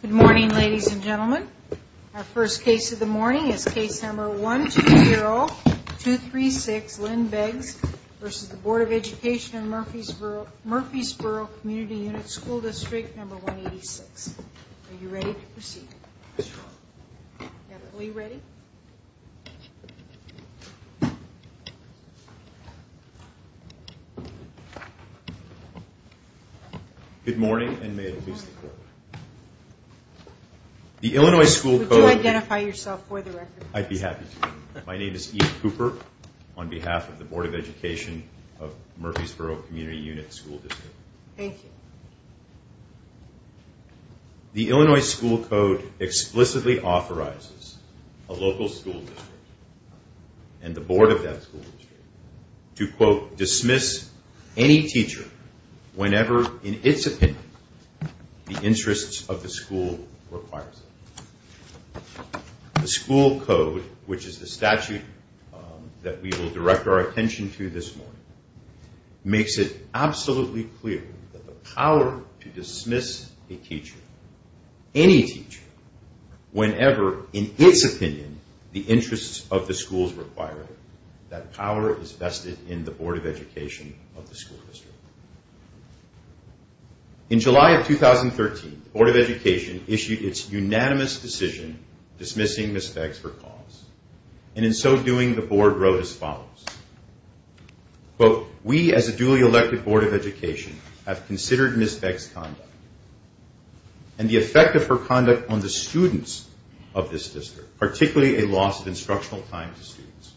Good morning ladies and gentlemen. Our first case of the morning is case number 120236 Lynn Beggs v. Board of Education of Murphysboro Community Unit School District No. 186. Are you ready to proceed? Are we ready? Good morning and may it please the court. Would you identify yourself for the record? I'd be happy to. My name is Ian Cooper on behalf of the Board of Education of Murphysboro Community Unit School District. Thank you. The Illinois school code explicitly authorizes a local school district and the board of that school district to, quote, dismiss any teacher whenever, in its opinion, the interests of the school requires it. The school code, which is the statute that we will direct our attention to this morning, makes it absolutely clear that the power to dismiss a teacher, any teacher, whenever, in its opinion, the interests of the school requires it, that power is vested in the board of education of the school district. In July of 2013, the board of education issued its unanimous decision dismissing Ms. Beggs for cause. And in so doing, the board wrote as follows, quote, we as a duly elected board of education have considered Ms. Beggs' conduct and the effect of her conduct on the students of this district, particularly a loss of instructional time to students.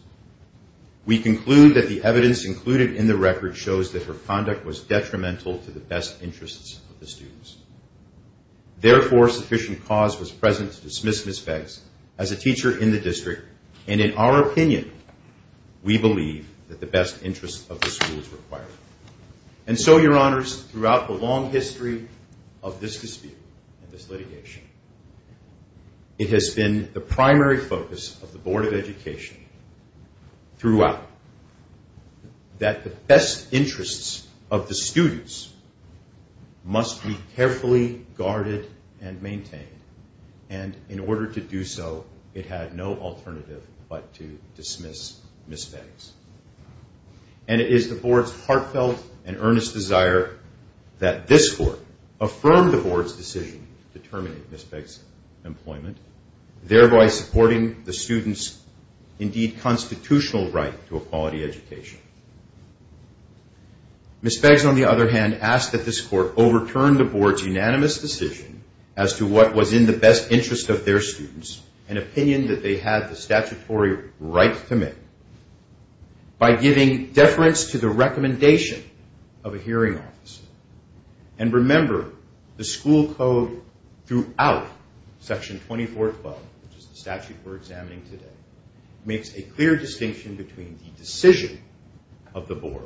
We conclude that the evidence included in the record shows that her conduct was detrimental to the best interests of the students. Therefore, sufficient cause was present to dismiss Ms. Beggs as a teacher in the district, and in our opinion, we believe that the best interests of the school is required. And so, your honors, throughout the long history of this dispute and this litigation, it has been the primary focus of the board of education throughout that the best interests of the students must be carefully guarded and maintained. And in order to do so, it had no alternative but to dismiss Ms. Beggs. And it is the board's heartfelt and earnest desire that this court affirm the board's decision to terminate Ms. Beggs' employment, thereby supporting the students' indeed constitutional right to a quality education. Ms. Beggs, on the other hand, asked that this court overturn the board's unanimous decision as to what was in the best interest of their students, an opinion that they had the statutory right to make, by giving deference to the recommendation of a hearing officer. And remember, the school code throughout Section 2412, which is the statute we're examining today, makes a clear distinction between the decision of the board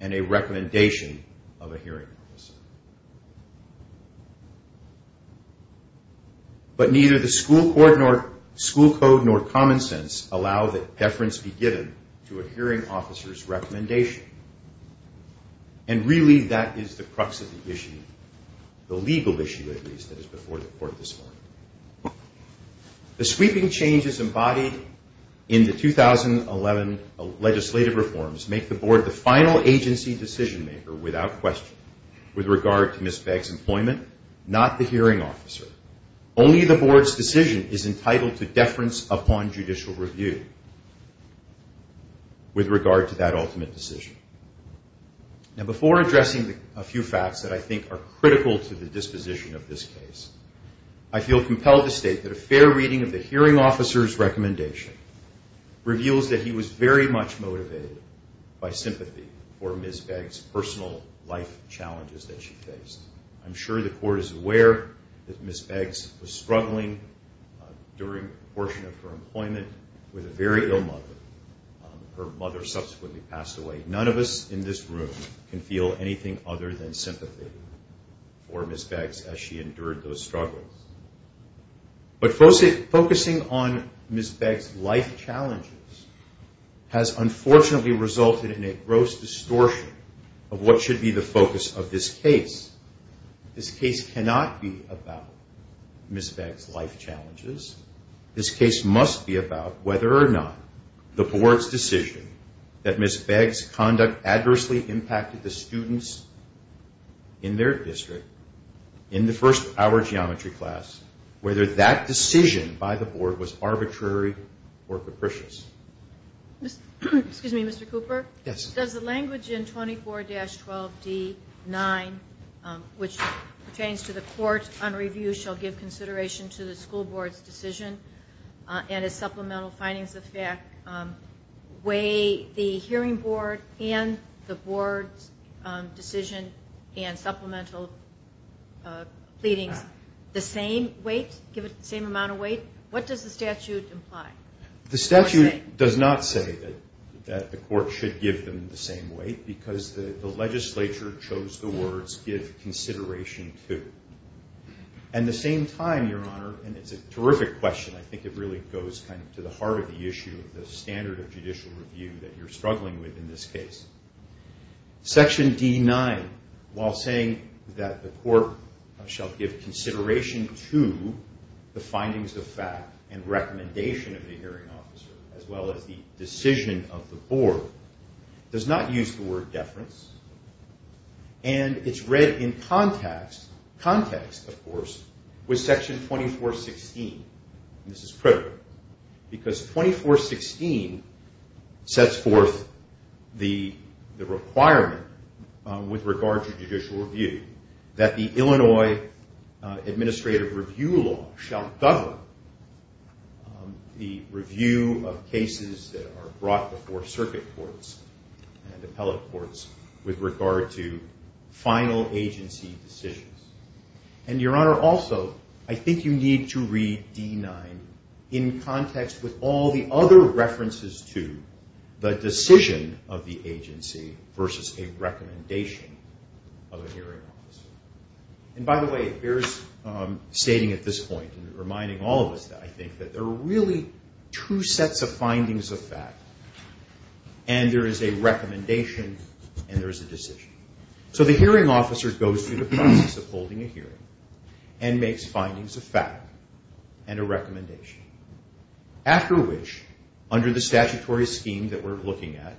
and a recommendation of a hearing officer. But neither the school code nor common sense allow that deference be given to a hearing officer's recommendation. And really, that is the crux of the issue, the legal issue, at least, that is before the court this morning. The sweeping changes embodied in the 2011 legislative reforms make the board the final agency decision-maker, without question, with regard to Ms. Beggs' employment, not the hearing officer. Only the board's decision is entitled to deference upon judicial review with regard to that ultimate decision. Now, before addressing a few facts that I think are critical to the disposition of this case, I feel compelled to state that a fair reading of the hearing officer's recommendation reveals that he was very much motivated by sympathy for Ms. Beggs' personal life challenges that she faced. I'm sure the court is aware that Ms. Beggs was struggling during a portion of her employment with a very ill mother. Her mother subsequently passed away. None of us in this room can feel anything other than sympathy for Ms. Beggs as she endured those struggles. But focusing on Ms. Beggs' life challenges has unfortunately resulted in a gross distortion of what should be the focus of this case. This case cannot be about Ms. Beggs' life challenges. This case must be about whether or not the board's decision that Ms. Beggs' conduct adversely impacted the students in their district in the first-hour geometry class, whether that decision by the board was arbitrary or capricious. Excuse me, Mr. Cooper? Yes. Does the language in 24-12D9, which pertains to the court on review, shall give consideration to the school board's decision and its supplemental findings of fact weigh the hearing board and the board's decision and supplemental pleadings the same weight, give it the same amount of weight? What does the statute imply? The statute does not say that the court should give them the same weight because the legislature chose the words give consideration to. And at the same time, Your Honor, and it's a terrific question, I think it really goes to the heart of the issue of the standard of judicial review that you're struggling with in this case. Section D9, while saying that the court shall give consideration to the findings of fact and recommendation of the hearing officer as well as the decision of the board, does not use the word deference. And it's read in context, of course, with Section 2416. This is critical because 2416 sets forth the requirement with regard to judicial review that the Illinois Administrative Review Law shall govern the review of cases that are brought before circuit courts and appellate courts. With regard to final agency decisions. And Your Honor, also, I think you need to read D9 in context with all the other references to the decision of the agency versus a recommendation of a hearing officer. And by the way, it bears stating at this point and reminding all of us that I think that there are really two sets of findings of fact. And there is a recommendation and there is a decision. So the hearing officer goes through the process of holding a hearing and makes findings of fact and a recommendation. After which, under the statutory scheme that we're looking at,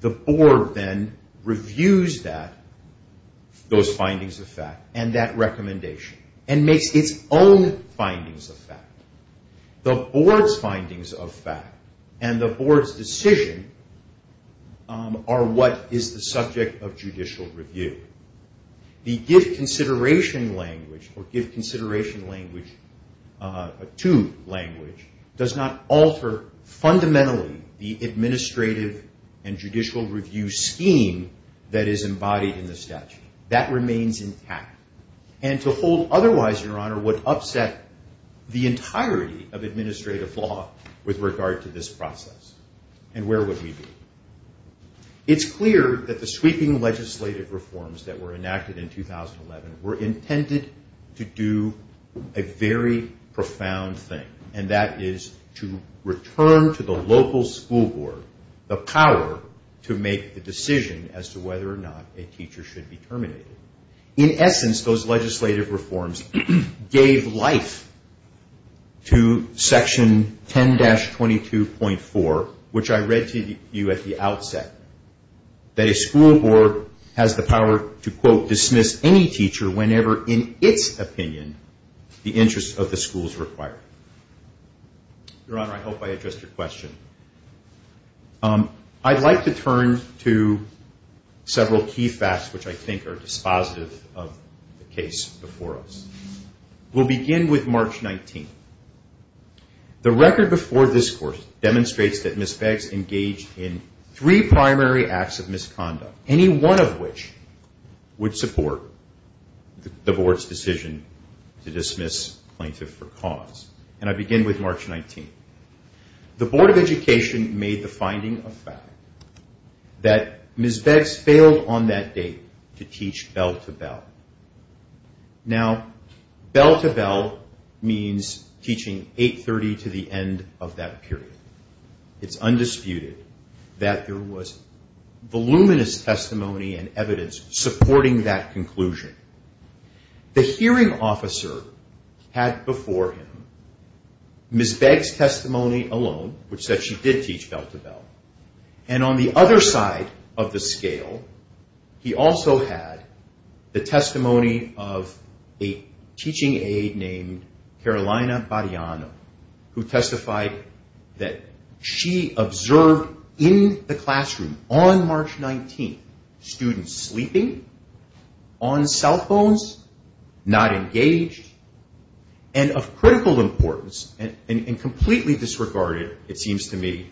the board then reviews those findings of fact and that recommendation and makes its own findings of fact. The board's findings of fact and the board's decision are what is the subject of judicial review. The give consideration language or give consideration language to language does not alter fundamentally the administrative and judicial review scheme that is embodied in the statute. And to hold otherwise, Your Honor, would upset the entirety of administrative law with regard to this process. And where would we be? It's clear that the sweeping legislative reforms that were enacted in 2011 were intended to do a very profound thing. And that is to return to the local school board the power to make the decision as to whether or not a teacher should be terminated. In essence, those legislative reforms gave life to Section 10-22.4, which I read to you at the outset, that a school board has the power to, quote, Your Honor, I hope I addressed your question. I'd like to turn to several key facts which I think are dispositive of the case before us. We'll begin with March 19th. The record before this course demonstrates that Ms. Beggs engaged in three primary acts of misconduct, any one of which would support the board's decision to dismiss plaintiff for cause. And I begin with March 19th. The Board of Education made the finding of fact that Ms. Beggs failed on that date to teach bell to bell. Now, bell to bell means teaching 8.30 to the end of that period. It's undisputed that there was voluminous testimony and evidence supporting that conclusion. The hearing officer had before him Ms. Beggs' testimony alone, which said she did teach bell to bell. And on the other side of the scale, he also had the testimony of a teaching aide named Carolina Bariano, who testified that she observed in the classroom on March 19th students sleeping, on Saturdays, and on Sundays. She was on cell phones, not engaged, and of critical importance and completely disregarded, it seems to me,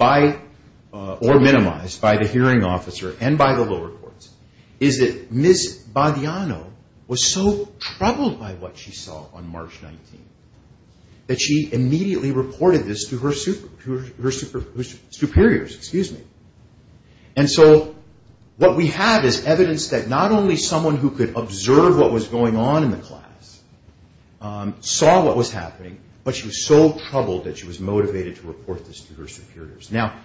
or minimized by the hearing officer and by the lower courts, is that Ms. Bariano was so troubled by what she saw on March 19th that she immediately reported this to her superiors. And so what we have is evidence that not only someone who could observe what was going on in the class saw what was happening, but she was so troubled that she was motivated to report this to her superiors. Now,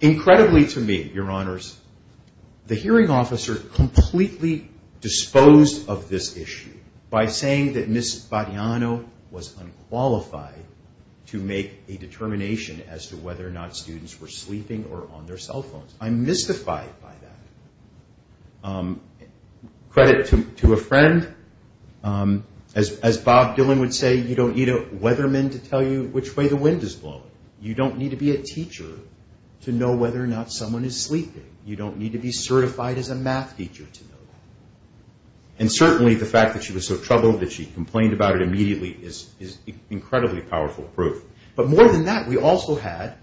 incredibly to me, Your Honors, the hearing officer completely disposed of this issue by saying that Ms. Bariano was unqualified to make a determination as to whether or not students were sleeping or on their cell phones. I'm mystified by that. Credit to a friend. As Bob Dylan would say, you don't need a weatherman to tell you which way the wind is blowing. You don't need to be a teacher to know whether or not someone is sleeping. You don't need to be certified as a math teacher to know that. And certainly the fact that she was so troubled that she complained about it immediately is incredibly powerful proof. But more than that, we also had,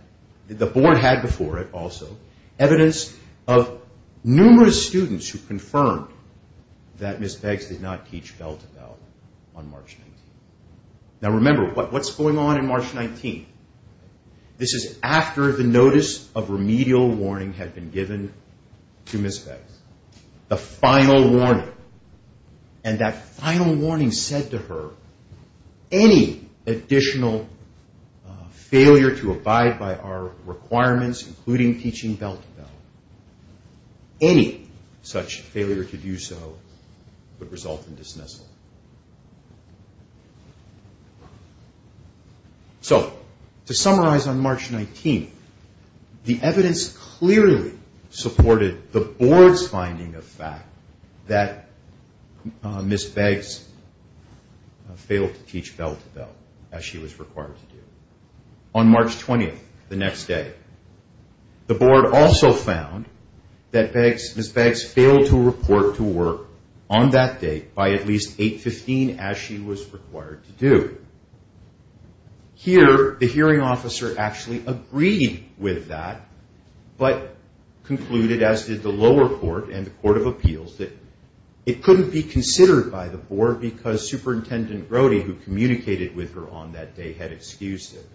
the board had before it also, evidence of numerous students who confirmed that Ms. Beggs did not teach bell to bell on March 19th. Now remember, what's going on on March 19th? This is after the notice of remedial warning had been given to Ms. Beggs. The final warning. And that final warning said to her, any additional failure to abide by our requirements, including teaching bell to bell, any such failure to do so would result in dismissal. So to summarize on March 19th, the evidence clearly supported the board's finding of fact that Ms. Beggs failed to teach bell to bell as she was required to do on March 20th, the next day. The board also found that Ms. Beggs failed to report to work on that day by at least 8.15 as she was required to do. Here, the hearing officer actually agreed with that, but concluded, as did the lower court and the court of appeals, that it couldn't be considered by the board because Superintendent Brody, who communicated with her on that day, had excused it.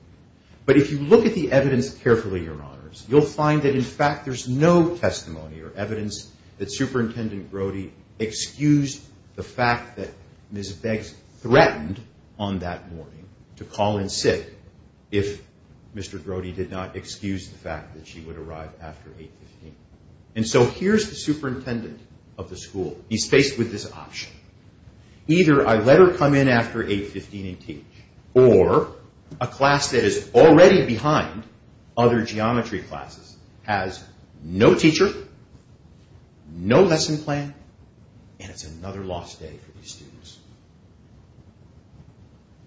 But if you look at the evidence carefully, Your Honors, you'll find that in fact there's no testimony or evidence that Superintendent Brody excused the fact that Ms. Beggs threatened on that morning to call in sick if Mr. Brody did not excuse the fact that she would arrive after 8.15. And so here's the superintendent of the school. He's faced with this option. Either I let her come in after 8.15 and teach, or a class that is already behind other geometry classes has no teacher, no lesson plan, and it's another lost day for these students.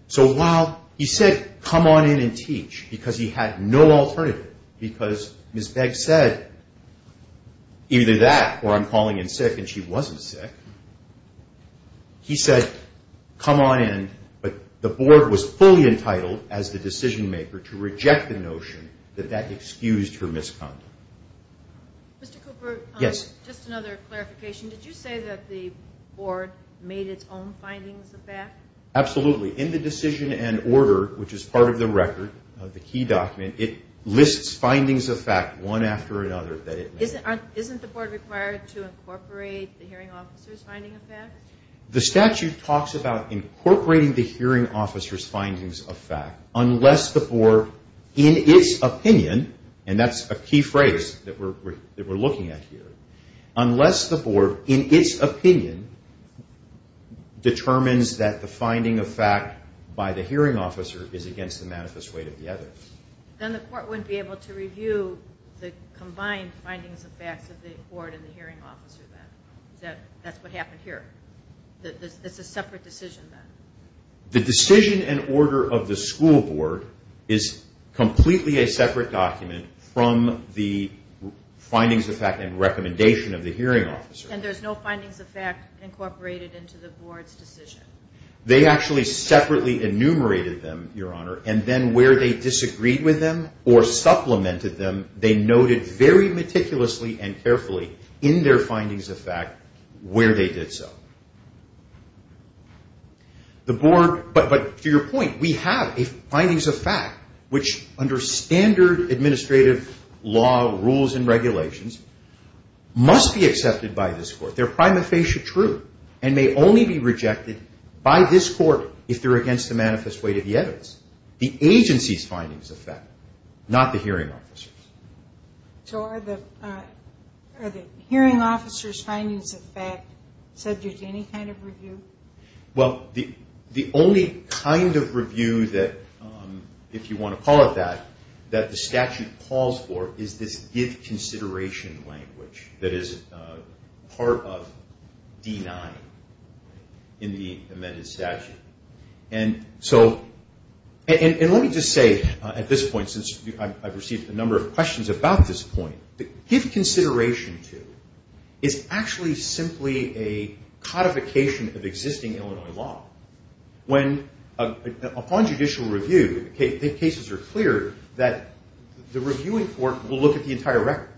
So while he said, come on in and teach, because he had no alternative, because Ms. Beggs said either that or I'm calling in sick and she wasn't sick, he said, come on in, but the board was fully entitled as the decision maker to reject the notion that that excused her misconduct. Mr. Cooper, just another clarification. Did you say that the board made its own findings of fact? Absolutely. In the decision and order, which is part of the record, the key document, it lists findings of fact one after another. Isn't the board required to incorporate the hearing officer's findings of fact? The statute talks about incorporating the hearing officer's findings of fact unless the board, in its opinion, and that's a key phrase that we're looking at here, unless the board, in its opinion, determines that the finding of fact by the hearing officer is against the manifest weight of the other. Then the court wouldn't be able to review the combined findings of facts of the board and the hearing officer then? That's what happened here? It's a separate decision then? The decision and order of the school board is completely a separate document from the findings of fact and recommendation of the hearing officer. And there's no findings of fact incorporated into the board's decision? They actually separately enumerated them, Your Honor, and then where they disagreed with them or supplemented them, they noted very meticulously and carefully in their findings of fact where they did so. But to your point, we have findings of fact which under standard administrative law rules and regulations must be accepted by this court. They're prima facie true and may only be rejected by this court if they're against the manifest weight of the evidence. The agency's findings of fact, not the hearing officer's. So are the hearing officer's findings of fact subject to any kind of review? Well, the only kind of review that, if you want to call it that, that the statute calls for is this give consideration language that is part of D-9 in the amended statute. And so, and let me just say at this point, since I've received a number of questions about this point, give consideration to is actually simply a codification of existing Illinois law. When, upon judicial review, the cases are clear that the reviewing court will look at the entire record,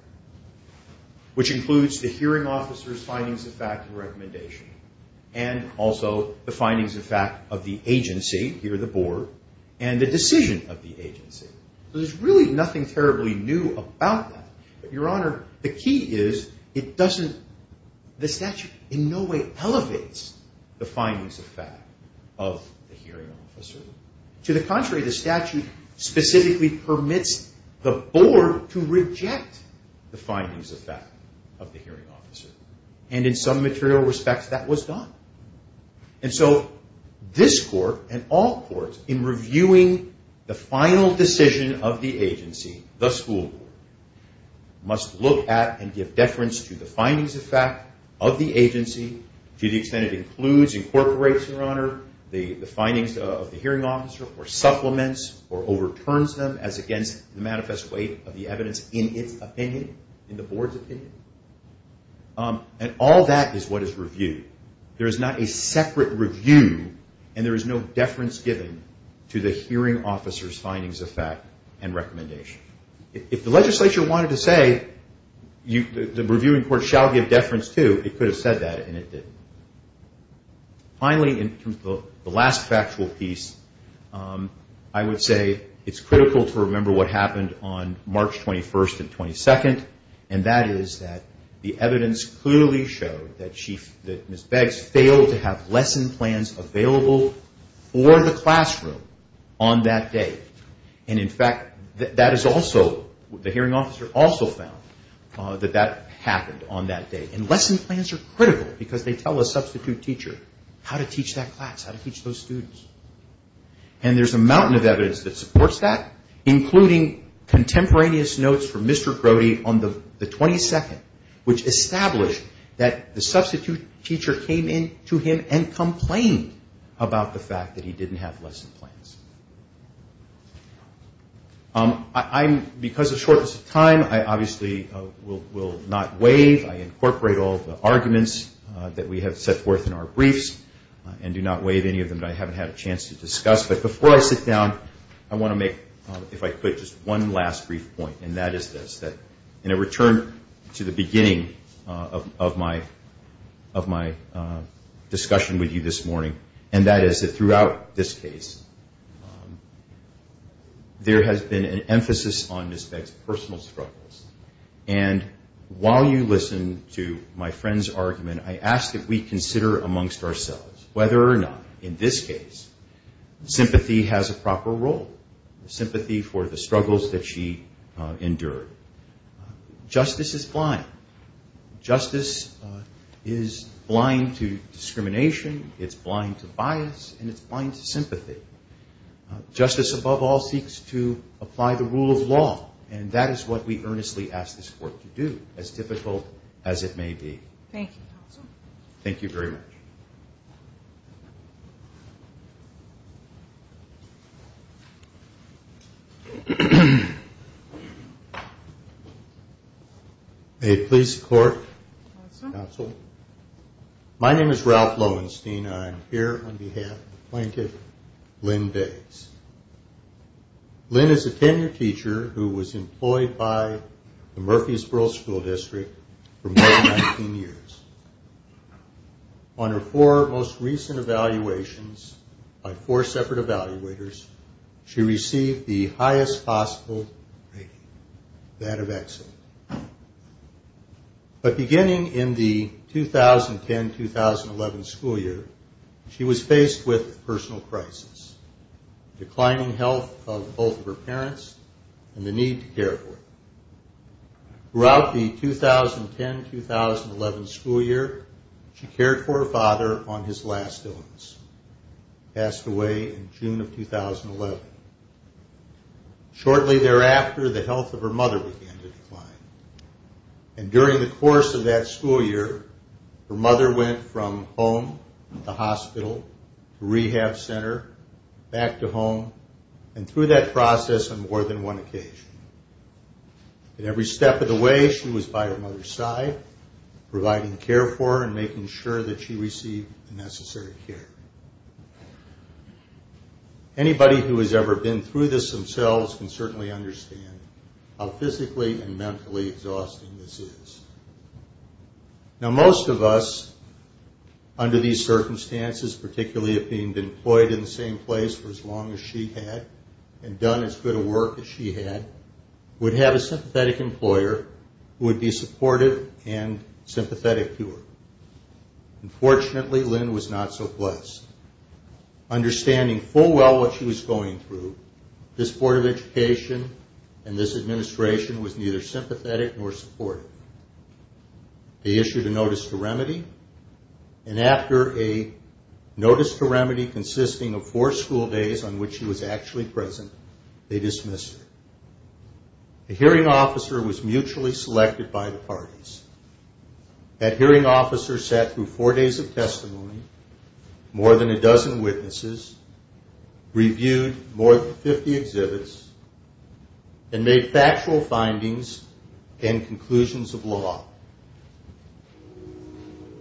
which includes the hearing officer's findings of fact and recommendation, and also the findings of fact of the agency, here the board, and the decision of the agency. So there's really nothing terribly new about that. But, Your Honor, the key is it doesn't, the statute in no way elevates the findings of fact of the hearing officer. To the contrary, the statute specifically permits the board to reject the findings of fact of the hearing officer. And in some material respects, that was done. And so this court and all courts in reviewing the final decision of the agency, the school board, must look at and give deference to the findings of fact of the agency to the extent it includes, incorporates, Your Honor, the findings of the hearing officer or supplements or overturns them as against the manifest weight of the evidence in its opinion, in the board's opinion. And all that is what is reviewed. There is not a separate review and there is no deference given to the hearing officer's findings of fact and recommendation. If the legislature wanted to say the reviewing court shall give deference to, it could have said that and it didn't. Finally, in terms of the last factual piece, I would say it's critical to remember what happened on March 21st and 22nd. And that is that the evidence clearly showed that she, that Ms. Beggs failed to have lesson plans available for the classroom on that day. And in fact, that is also, the hearing officer also found that that happened on that day. And lesson plans are critical because they tell a substitute teacher how to teach that class, how to teach those students. And there is a mountain of evidence that supports that, including contemporaneous notes from Mr. Brody on the 22nd, which established that the substitute teacher came in to him and complained about the fact that he didn't have lesson plans. Because of shortness of time, I obviously will not waive. I incorporate all the arguments that we have set forth in our briefs and do not waive any of them that I haven't had a chance to discuss. But before I sit down, I want to make, if I could, just one last brief point. And that is this, that in a return to the beginning of my discussion with you this morning, and that is that throughout this case, there has been an emphasis on Ms. Beggs' personal struggles. And while you listen to my friend's argument, I ask that we consider amongst ourselves whether or not in this case, sympathy has a proper role, sympathy for the struggles that she endured. Justice is blind. Justice is blind to discrimination. It's blind to bias, and it's blind to sympathy. Justice, above all, seeks to apply the rule of law, and that is what we earnestly ask this Court to do, as difficult as it may be. Thank you, Counsel. May it please the Court, Counsel. My name is Ralph Lowenstein, and I'm here on behalf of the plaintiff, Lynn Beggs. Lynn is a tenured teacher who was employed by the Murfreesboro School District for more than 19 years. On her four most recent evaluations, by four separate evaluators, she received the highest possible rating, that of excellent. But beginning in the 2010-2011 school year, she was faced with a personal crisis, declining health of both of her parents and the need to care for them. Throughout the 2010-2011 school year, she cared for her father on his last illness. He passed away in June of 2011. Shortly thereafter, the health of her mother began to decline, and during the course of that school year, her mother went from home, the hospital, the rehab center, back to home, and through that process on more than one occasion. At every step of the way, she was by her mother's side, providing care for her, and making sure that she received the necessary care. Anybody who has ever been through this themselves can certainly understand how physically and mentally exhausting this is. Now most of us, under these circumstances, particularly of being employed in the same place for as long as she had, and done as good a work as she had, would have a sympathetic employer who would be supportive and sympathetic to her. Unfortunately, Lynn was not so blessed. Understanding full well what she was going through, this Board of Education and this administration was neither sympathetic nor supportive. They issued a notice to remedy, and after a notice to remedy consisting of four school days on which she was actually present, they dismissed her. That hearing officer sat through four days of testimony, more than a dozen witnesses, reviewed more than 50 exhibits, and made factual findings and conclusions of law.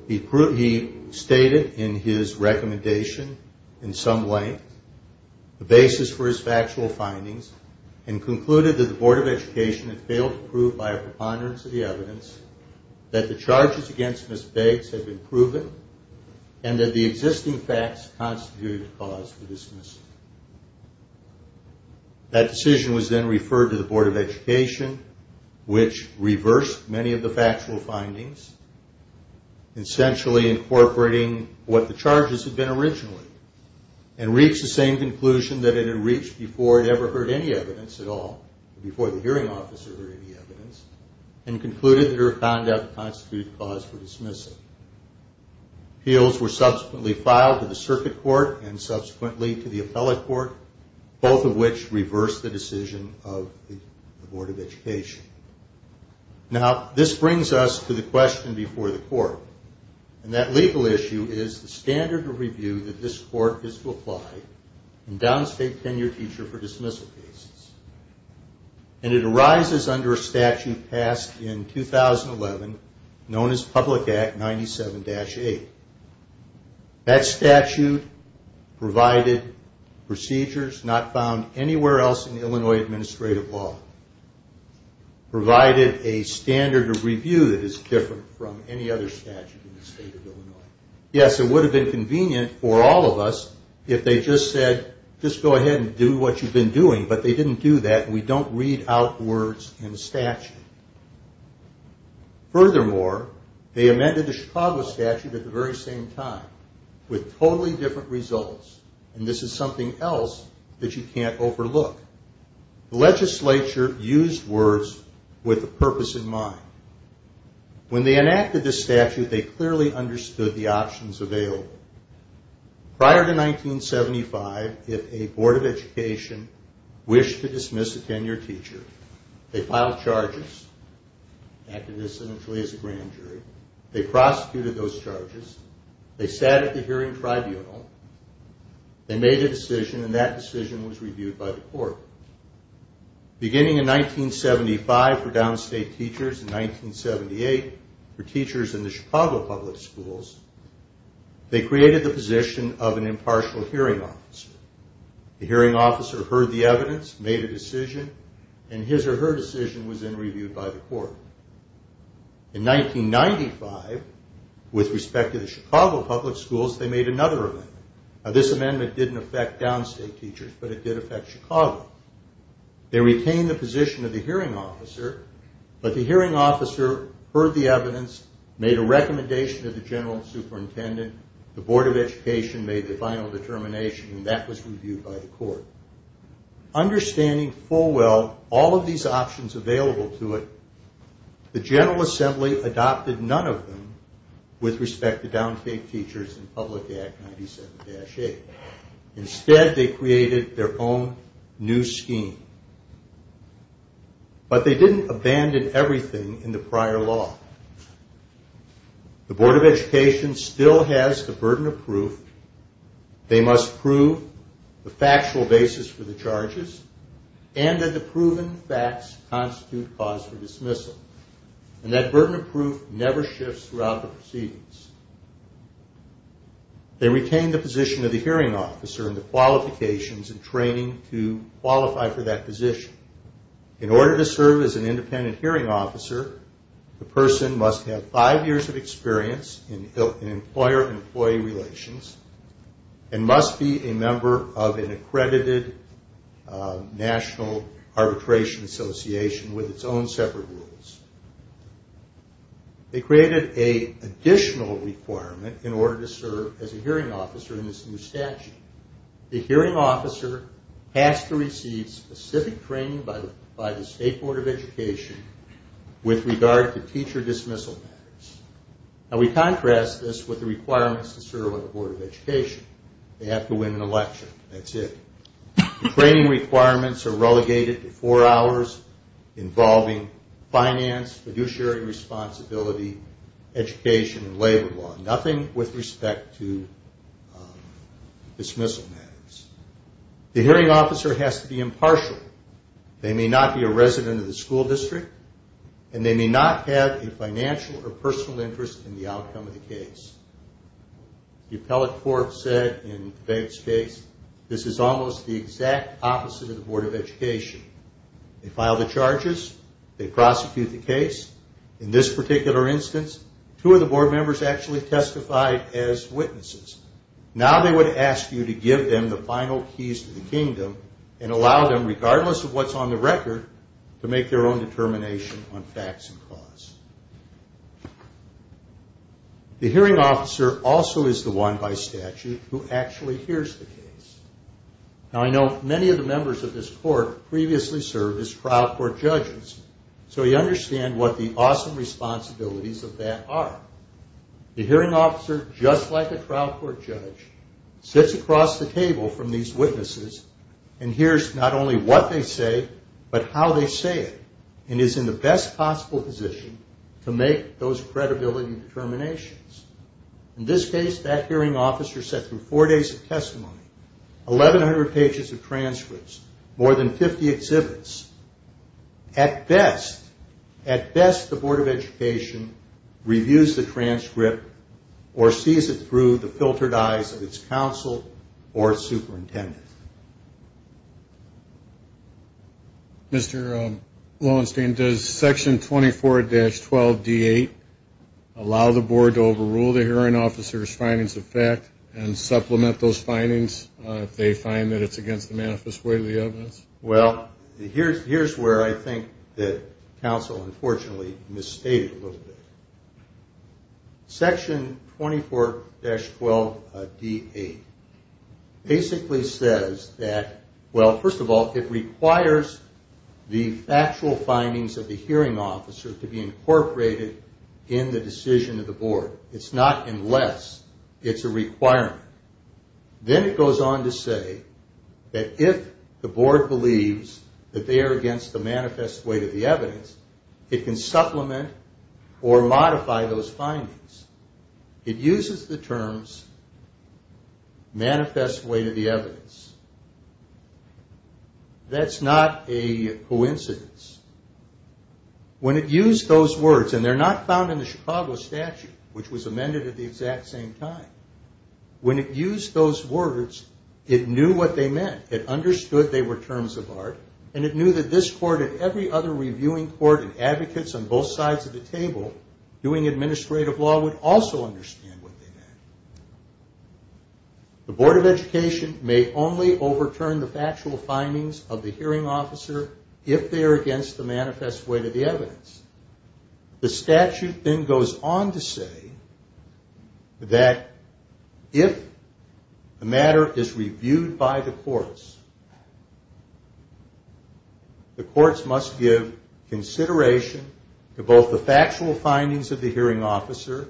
He stated in his recommendation in some length the basis for his factual findings, and concluded that the Board of Education had failed to prove by a preponderance of the evidence that the charges against Ms. Beggs had been proven, and that the existing facts constituted the cause for dismissal. That decision was then referred to the Board of Education, which reversed many of the factual findings, essentially incorporating what the charges had been originally, and reached the same conclusion that it had reached before it ever heard any evidence at all, before the hearing officer heard any evidence, and concluded that it found out to constitute the cause for dismissal. Appeals were subsequently filed to the Circuit Court and subsequently to the Appellate Court, both of which reversed the decision of the Board of Education. Now, this brings us to the question before the Court, and that legal issue is the standard of review that this Court is to apply in Downs State Tenure Teacher for Dismissal cases. And it arises under a statute passed in 2011, known as Public Act 97-8. That statute provided procedures not found anywhere else in Illinois administrative law, provided a standard of review that is different from any other statute in the state of Illinois. Yes, it would have been convenient for all of us if they just said, just go ahead and do what you've been doing, but they didn't do that, and we don't read out words in the statute. Furthermore, they amended the Chicago statute at the very same time, with totally different results, and this is something else that you can't overlook. The legislature used words with a purpose in mind. When they enacted this statute, they clearly understood the options available. Prior to 1975, if a Board of Education wished to dismiss a tenure teacher, they filed charges, acted incidentally as a grand jury, they prosecuted those charges, they sat at the hearing tribunal, they made a decision, and that decision was reviewed by the court. Beginning in 1975 for Downs State teachers, in 1978 for teachers in the Chicago public schools, they created the position of an impartial hearing officer. The hearing officer heard the evidence, made a decision, and his or her decision was then reviewed by the court. In 1995, with respect to the Chicago public schools, they made another amendment. This amendment didn't affect Downs State teachers, but it did affect Chicago. They retained the position of the hearing officer, but the hearing officer heard the evidence, made a recommendation to the general superintendent, the Board of Education made the final determination, and that was reviewed by the court. Understanding full well all of these options available to it, the General Assembly adopted none of them with respect to Downs State teachers in Public Act 97-8. Instead, they created their own new scheme. But they didn't abandon everything in the prior law. The Board of Education still has the burden of proof. They must prove the factual basis for the charges and that the proven facts constitute cause for dismissal. And that burden of proof never shifts throughout the proceedings. They retained the position of the hearing officer and the qualifications and training to qualify for that position. In order to serve as an independent hearing officer, the person must have five years of experience in employer-employee relations and must be a member of an accredited national arbitration association with its own separate rules. They created an additional requirement in order to serve as a hearing officer in this new statute. The hearing officer has to receive specific training by the State Board of Education with regard to teacher dismissal matters. Now we contrast this with the requirements to serve on the Board of Education. They have to win an election. That's it. The training requirements are relegated to four hours involving finance, fiduciary responsibility, education, and labor law. Nothing with respect to dismissal matters. The hearing officer has to be impartial. They may not be a resident of the school district and they may not have a financial or personal interest in the outcome of the case. The appellate court said in the case, this is almost the exact opposite of the Board of Education. They file the charges, they prosecute the case. In this particular instance, two of the board members actually testified as witnesses. Now they would ask you to give them the final keys to the kingdom and allow them, regardless of what's on the record, to make their own determination on facts and cause. The hearing officer also is the one by statute who actually hears the case. Now I know many of the members of this court previously served as trial court judges, so you understand what the awesome responsibilities of that are. The hearing officer, just like a trial court judge, sits across the table from these witnesses and hears not only what they say, but how they say it, and is in the best possible position to make those credibility determinations. In this case, that hearing officer sat through four days of testimony, 1,100 pages of transcripts, more than 50 exhibits. At best, at best, the Board of Education reviews the transcript or sees it through the filtered eyes of its counsel or superintendent. Mr. Lowenstein, does section 24-12-D8 allow the board to overrule the hearing officer's findings of fact and supplement those findings if they find that it's against the manifest way of the evidence? Well, here's where I think that was unfortunately misstated a little bit. Section 24-12-D8 basically says that, well, first of all, it requires the factual findings of the hearing officer to be incorporated in the decision of the board. It's not unless. It's a requirement. Then it goes on to say that if the board believes that they are against the manifest way to the evidence, it can supplement or modify those findings. It uses the terms manifest way to the evidence. That's not a coincidence. When it used those words, and they're not found in the Chicago statute, which was amended at the exact same time. When it used those words, it knew what they meant. It understood they were terms of art, and it knew that this court and every other reviewing court and advocates on both sides of the table doing administrative law would also understand what they meant. The board of education may only overturn the factual findings of the hearing officer if they are against the manifest way to the evidence. The statute then goes on to say that if the matter is reviewed by the courts, the courts must give consideration to both the factual findings of the hearing officer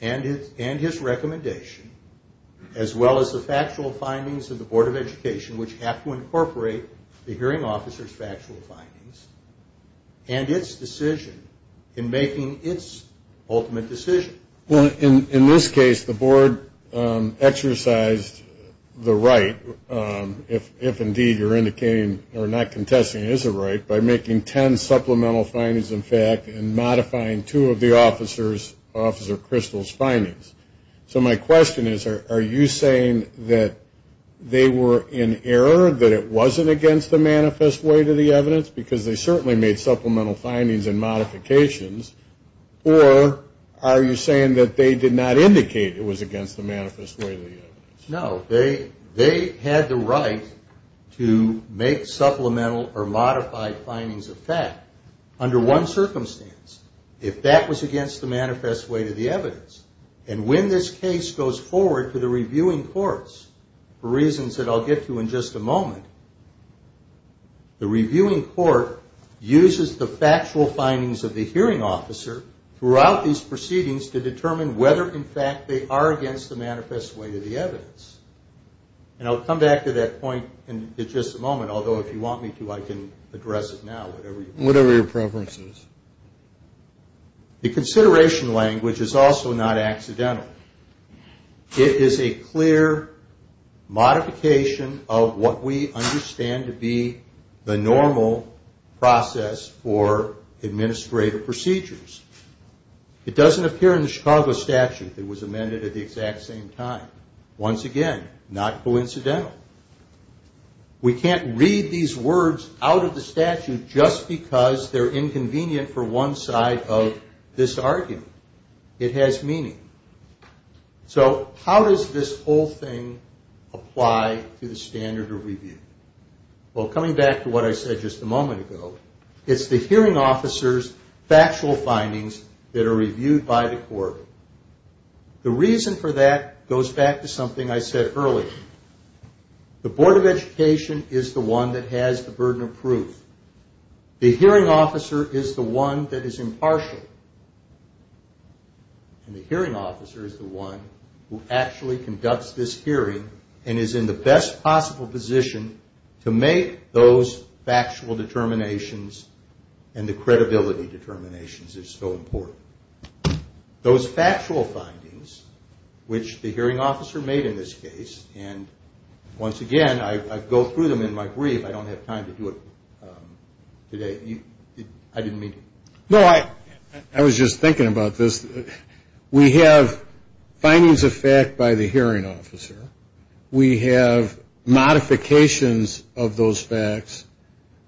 and his recommendation, as well as the factual findings of the board of education, which have to incorporate the hearing officer's factual findings and its decision in making its ultimate decision. In this case, the board exercised the right, if indeed you're indicating or not contesting it is a right, by making ten supplemental findings in fact and modifying two of the officer's, officer Crystal's findings. So my question is, are you saying that they were in error, that it wasn't against the manifest way to the evidence, because they certainly made supplemental findings and modifications, or are you saying that they did not indicate it was against the manifest way to the evidence? No, they had the right to make supplemental or modified findings of fact under one circumstance, if that was against the manifest way to the evidence. And when this case goes forward to the reviewing courts, for reasons that I'll get to in just a moment, the reviewing court uses the factual findings of the hearing officer throughout these proceedings to determine whether in fact they are against the manifest way to the evidence. And I'll come back to that point in just a moment, although if you want me to, I can address it now. Whatever your preference is. The consideration language is also not accidental. It is a clear modification of what we understand to be the normal process for administrative procedures. It doesn't appear in the Chicago statute that it was amended at the exact same time. Once again, not coincidental. We can't read these words out of the statute just because they're inconvenient for one side of this argument. It has meaning. So how does this whole thing apply to the standard of review? Well, coming back to what I said just a moment ago, it's the hearing officer. The reason for that goes back to something I said earlier. The Board of Education is the one that has the burden of proof. The hearing officer is the one that is impartial. And the hearing officer is the one who actually conducts this hearing and is in the best possible position to make the right determinations. It's so important. Those factual findings, which the hearing officer made in this case, and once again, I go through them in my brief. I don't have time to do it today. I didn't mean to. No, I was just thinking about this. We have findings of fact by the hearing officer. We have modifications of those facts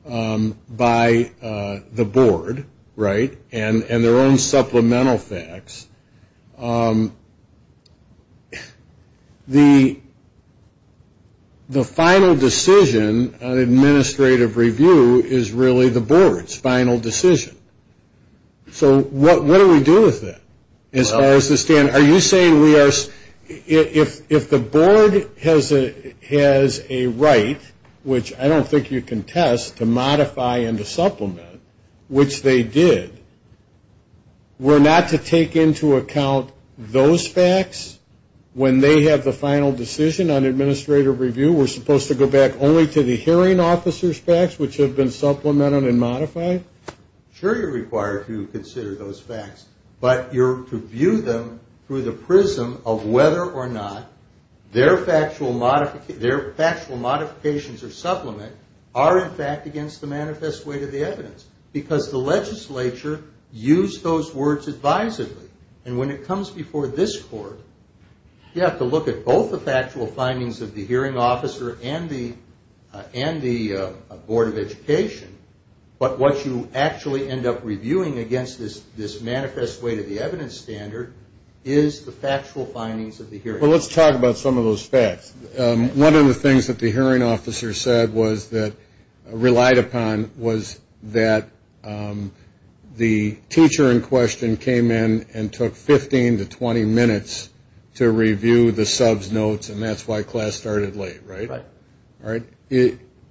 by the board and their own supplemental facts. The final decision on administrative review is really the board's final decision. So what do we do with that as far as the standard? Are you saying we are, if the board has a right, which I don't think you can test, to modify and to supplement, which they did, we're not to take into account those facts when they have the final decision on administrative review? We're supposed to go back only to the hearing officer's facts, which have been supplemented and modified? Sure you're required to consider those facts, but you're to view them through the prism of whether or not their factual modifications or supplement are in fact against the manifest weight of the evidence. Because the legislature used those words advisedly. And when it comes before this court, you have to look at both the factual findings of the hearing officer and the board of education. But what you actually end up reviewing against this manifest weight of the evidence standard is the factual findings of the hearing officer. One of the things that the hearing officer relied upon was that the teacher in question came in and took 15 to 20 minutes to review the sub's notes, and that's why class started late, right?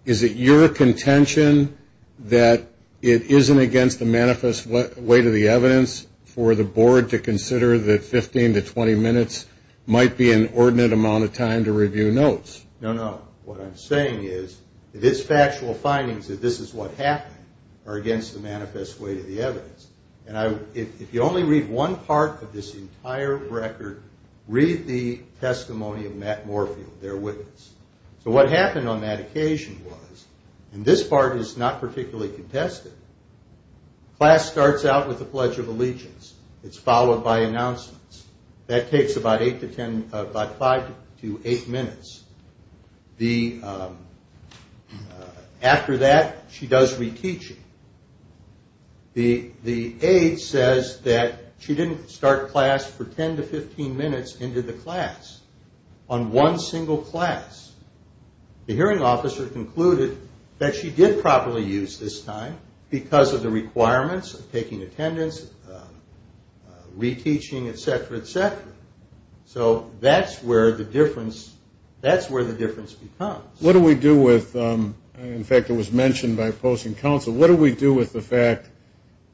Is it your contention that it isn't against the manifest weight of the evidence for the board to consider that 15 to 20 minutes might be an ordinate amount of time to review notes? No, no. What I'm saying is this factual findings that this is what happened are against the manifest weight of the evidence. And if you only read one part of this entire record, read the testimony of Matt Moorfield, their witness. So what happened on that occasion was, and this part is not particularly contested, class starts out with the Pledge of Allegiance. It's followed by announcements. That takes about five to eight minutes. After that, she does reteaching. The aide says that she didn't start class for 10 to 15 minutes into the class, on one single class. The hearing officer concluded that she did properly use this time because of the requirements of taking attendance, reteaching, et cetera, et cetera. So that's where the difference becomes. What do we do with, in fact it was mentioned by opposing counsel, what do we do with the fact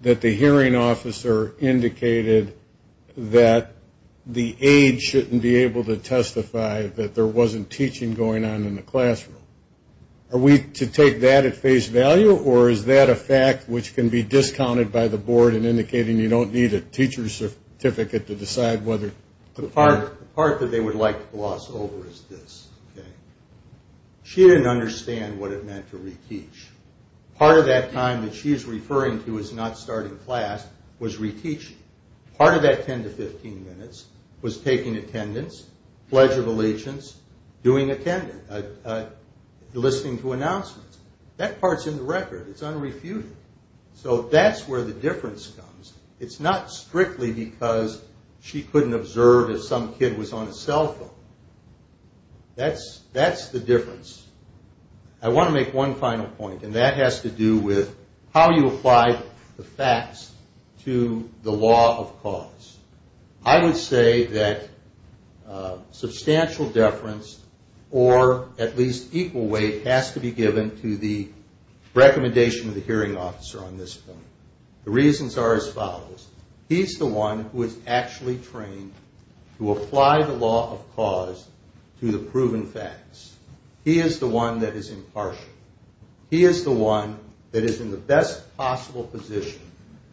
that the hearing officer indicated that the aide shouldn't be able to testify that there wasn't teaching going on in the classroom? Are we to take that at face value, or is that a fact which can be discounted by the board in indicating you don't need a teacher's certificate to decide whether... The part that they would like to gloss over is this. She didn't understand what it meant to reteach. Part of that time that she's referring to as not starting class was reteaching. Part of that 10 to 15 minutes was taking attendance, Pledge of Allegiance, doing attendance, listening to announcements. That part's in the record. It's unrefuted. So that's where the difference comes. It's not strictly because she couldn't observe if some kid was on a cell phone. That's the difference. I want to make one final point, and that has to do with how you apply the facts to the law of cause. I would say that substantial deference or at least equal weight has to be given to the recommendation of the hearing officer on this point. The reasons are as follows. He's the one who is actually trained to apply the law of cause to the proven facts. He is the one that is impartial. He is the one that is in the best possible position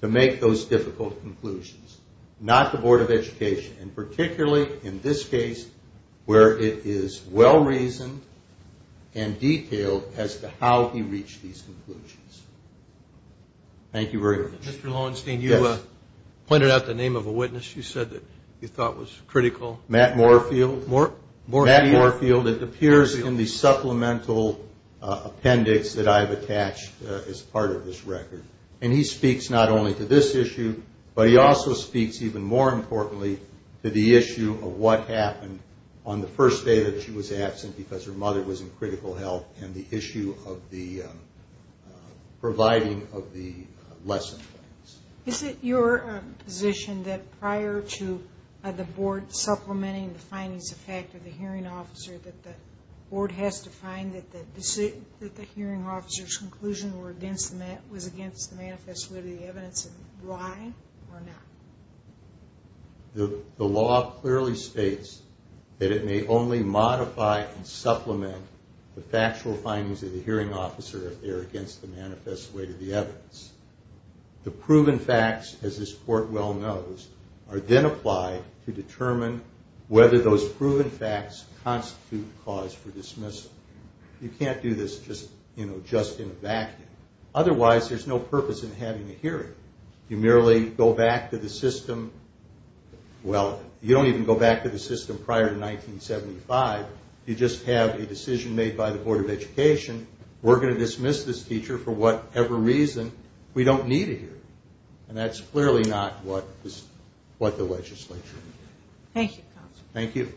to make those difficult conclusions. Not the Board of Education, and particularly in this case where it is well reasoned and detailed as to how he reached these conclusions. Matt Moorfield. Is that the name of a witness you said that you thought was critical? Matt Moorfield. It appears in the supplemental appendix that I have attached as part of this record. And he speaks not only to this issue, but he also speaks even more importantly to the issue of what happened on the first day that she was absent because her mother was in critical health and the issue of the providing of the lesson points. Is it your position that prior to the Board supplementing the findings of fact of the hearing officer that the Board has to find that the hearing officer's conclusion was against the manifest with the evidence of why or not? Matt Moorfield. The law clearly states that it may only modify and supplement the factual findings of the hearing officer if they are against the manifest weight of the evidence. The proven facts, as this court well knows, are then applied to determine whether those proven facts constitute the cause for dismissal. You can't do this just in a vacuum. Otherwise there is no purpose in having a hearing. You merely go back to the system well, you don't even go back to the system prior to 1975. You just have a decision made by the Board of Education. We're going to dismiss this teacher for whatever reason we don't need it here. And that's clearly not what the legislature did. Thank you. Thank you.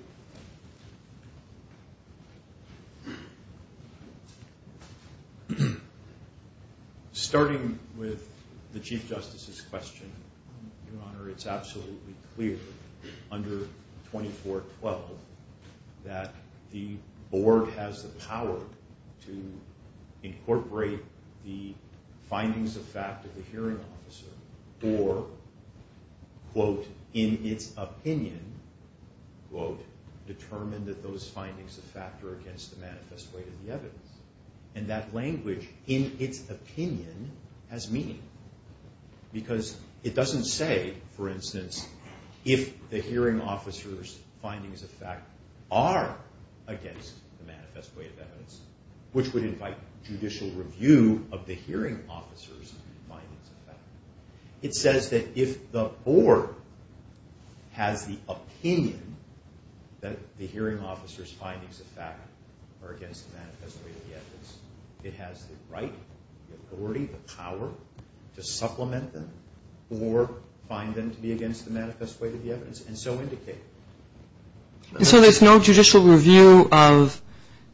Starting with the Chief Justice's question, Your Honor, it's absolutely clear under 2412 that the Board has the power to incorporate the findings of fact of the hearing officer or, quote, in its opinion, quote, determine that those findings of fact are against the manifest weight of the evidence. And that language, in its opinion, has meaning. Because it doesn't say, for instance, if the hearing officer's findings of fact are against the manifest weight of evidence, which would invite judicial review of the hearing officer's findings of fact. It says that if the Board has the opinion that the hearing officer's findings of fact are against the manifest weight of the evidence, it has the right, the authority, the power to supplement them or find them to be against the manifest weight of the evidence and so indicate. So there's no judicial review of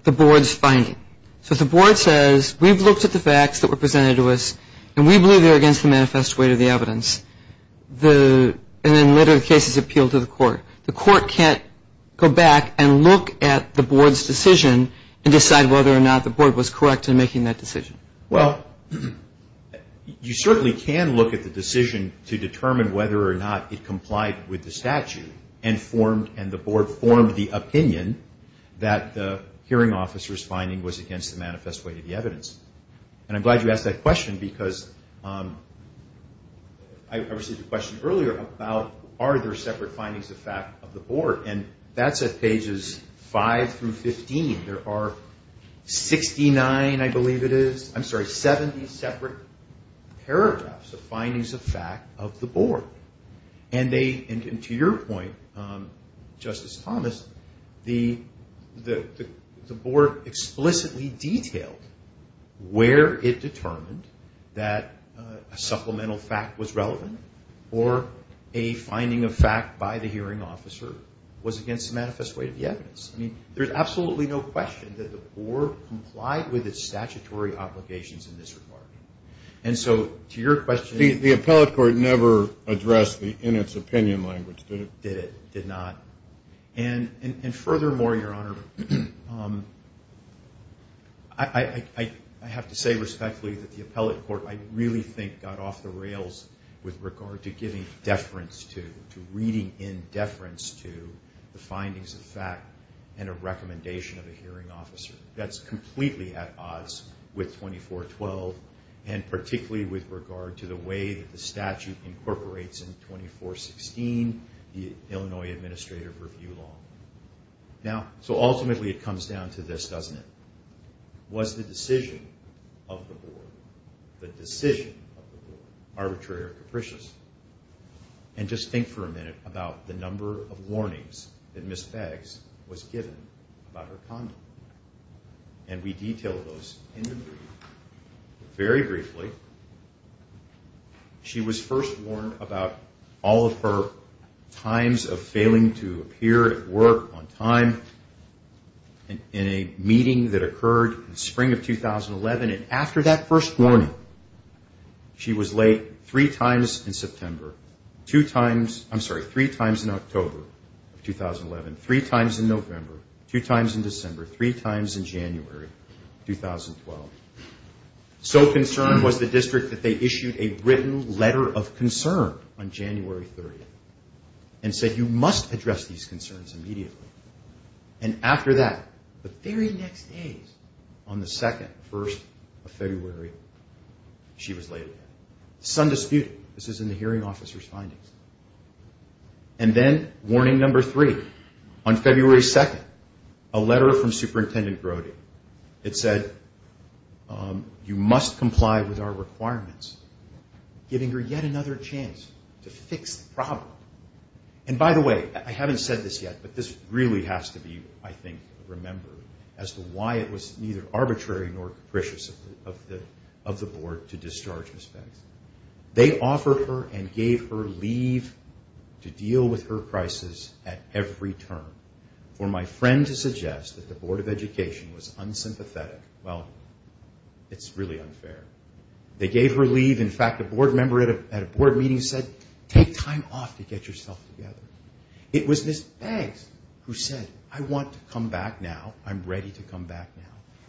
the Board's finding. So if the Board says, we've looked at the facts that were presented to us and we believe they're against the manifest weight of the evidence, and then later the case is appealed to the court, the court can't go back and look at the Board's decision and decide whether or not the Board was correct in making that decision. Well, you certainly can look at the decision to determine whether or not it complied with the statute and the Board formed the opinion that the hearing officer's finding was against the manifest weight of the evidence. And I'm glad you asked that question because I received a question earlier about, are there separate findings of fact of the Board? And that's at pages 5 through 15. There are 70 separate paragraphs of findings of fact of the Board. And to your point, Justice Thomas, the Board explicitly detailed where it determined that a supplemental fact was relevant or a finding of fact by the hearing officer was against the manifest weight of the evidence. I mean, there's absolutely no question that the Board complied with its statutory obligations in this regard. And so to your question... The appellate court never addressed the in-its-opinion language, did it? Did it, did not. And furthermore, Your Honor, I have to say respectfully that the appellate court, I really think, got off the rails with regard to giving deference to, to reading in deference to the findings of fact and a recommendation of a hearing officer. That's completely at odds with 2412 and particularly with regard to the way that the statute incorporates in 2416 the Illinois Administrative Review Law. So ultimately it comes down to this, doesn't it? Was the decision of the appellate court to give deference to the findings of fact? And just think for a minute about the number of warnings that Ms. Beggs was given about her condom. And we detail those in the brief. Very briefly, she was first warned about all of her times of failing to appear at work on time. And in a meeting that occurred in spring of 2011, and after that first warning, she was late three times in September, two times, I'm sorry, three times in October of 2011, three times in November, two times in December, three times in January 2012. So concerned was the district that they issued a written letter of concern on January 30th and said you must address these concerns immediately. And after that, the very next day on the second, first of February, she was late again. Some dispute, this is in the hearing officer's findings. And then warning number three, on February 2nd, a letter from Superintendent Brody. It said you must comply with our guidelines. And by the way, I haven't said this yet, but this really has to be, I think, remembered as to why it was neither arbitrary nor capricious of the board to discharge Ms. Beggs. They offered her and gave her leave to deal with her crisis at every turn. For my friend to suggest that the Board of Education was unsympathetic, well, it's really unfair. They gave her leave. In fact, a board member at a board meeting said take time off to get yourself together. It was Ms. Beggs who said I want to come back now. I'm ready to come back now.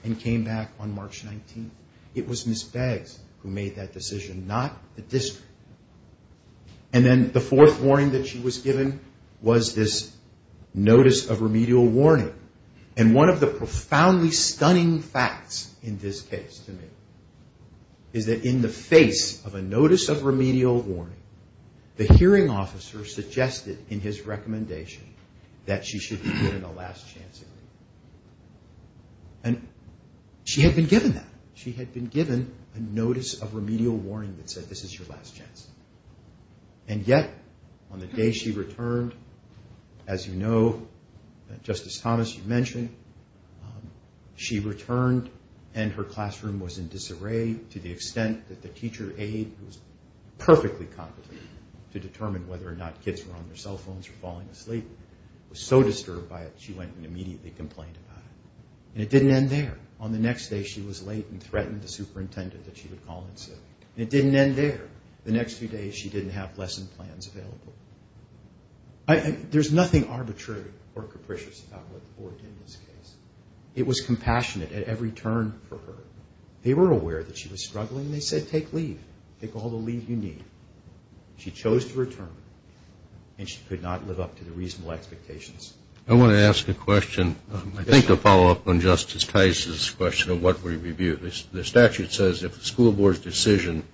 And came back on March 19th. It was Ms. Beggs who made that decision, not the district. And then the fourth warning that she was given was this notice of remedial warning. And one of the reasons for that is that in the face of a notice of remedial warning, the hearing officer suggested in his recommendation that she should be given a last chance agreement. And she had been given that. She had been given a notice of remedial warning that said this is your last chance. And yet, on the day she returned, as you know, Justice Thomas, you mentioned, she returned and her classroom was in disarray to the extent that the teacher aide, who was perfectly competent to determine whether or not kids were on their cell phones or falling asleep, was so disturbed by it she went and immediately complained about it. And it didn't end there. On the next day she was late and threatened the superintendent that she would call in sick. And it didn't end there. The next few days she didn't have lesson plans available. There's nothing arbitrary or capricious about what occurred in this case. It was compassionate at every turn for her. They were aware that she was struggling and they said take leave. Take all the leave you need. She chose to return and she could not live up to the reasonable expectations. I want to ask a question. I think to follow up on Justice Tice's question of what we review. The statute says if the school board's decision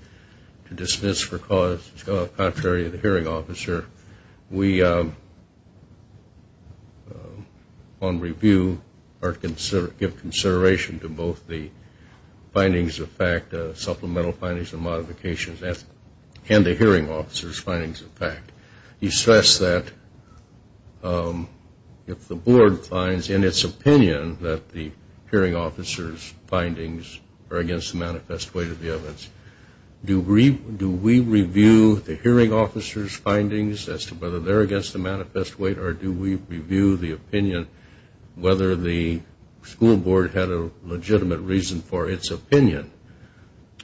to dismiss for cause contrary to the hearing officer, we on review, give consideration to both the findings of fact, supplemental findings and modifications, and the hearing officer's findings of fact. You stress that if the board finds in its opinion that the hearing officer's findings are against the manifest way to the evidence, do we review the hearing officer's findings as to whether they're against the manifest way or do we review the opinion whether the school board had a legitimate reason for its opinion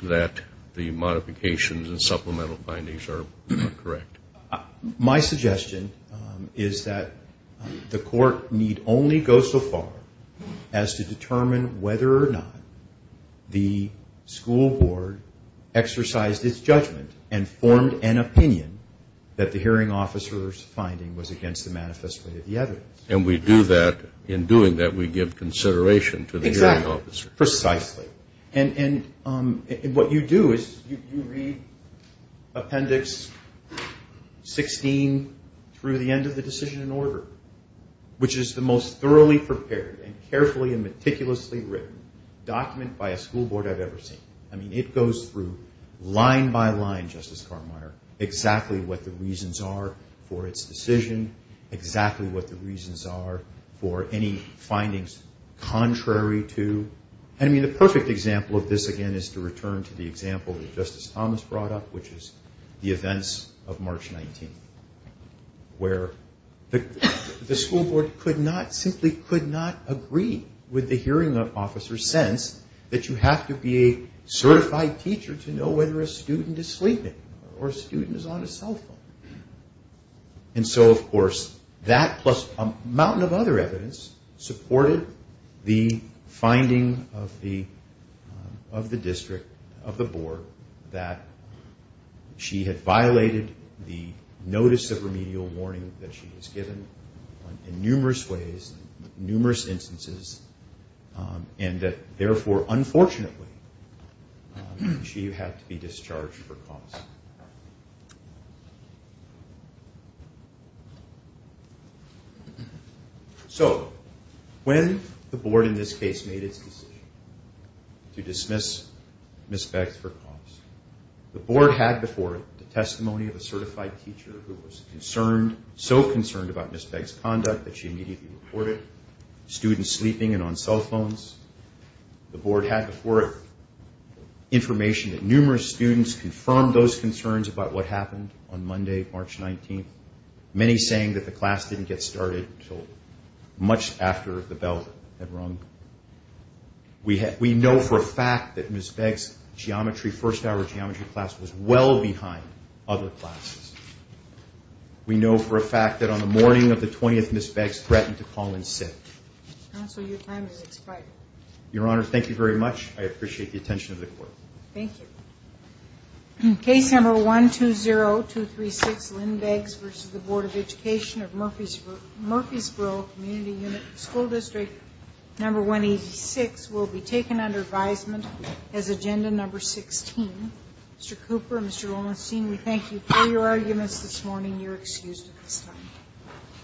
that the modifications and supplemental findings are correct? My suggestion is that the court need only go so far as to determine whether or not the school board exercised its judgment and formed an opinion that the hearing officer's finding was against the manifest way to the evidence. And we do that, in doing that, we give consideration to the hearing officer. Precisely. And what you do is you read appendix 16 through the end of the decision in order, which is the most thoroughly prepared and carefully and meticulously written document by a school board I've ever seen. I mean, it goes through line by line, Justice Cartmire, exactly what the reasons are for its decision, exactly what the reasons are for any findings contrary to. I mean, the perfect example of this, again, is to return to the where the school board simply could not agree with the hearing officer's sense that you have to be a certified teacher to know whether a student is sleeping or a student is on a cell phone. And so, of course, that plus a mountain of other evidence supported the finding of the district, of the board, that she had violated the notice of remedial warning that she was given in numerous ways, in numerous instances, and that, therefore, unfortunately, she had to be discharged for cause. So, when the board in this case made its decision to dismiss Ms. Beggs for cause, the board had before it the testimony of a certified teacher who was concerned, so concerned about Ms. Beggs' conduct that she immediately reported students sleeping and on cell phones. The board had before it information that numerous students confirmed those concerns about what happened on Monday, March 19th, many saying that the class didn't get started until much after the bell had rung. We know for a fact that Ms. Beggs' first hour geometry class was well behind other classes. We know for a fact that on the morning of the 20th, Ms. Beggs threatened to call in sick. Your Honor, thank you very much. I appreciate the attention of the court. Thank you. Case number 120236, Lynn Beggs versus the Board of Education of Murfreesboro Community School District number 186 will be taken under advisement as agenda number 16. Mr. Cooper, Mr. Olinstein, we thank you for your arguments this morning. You're excused at this time.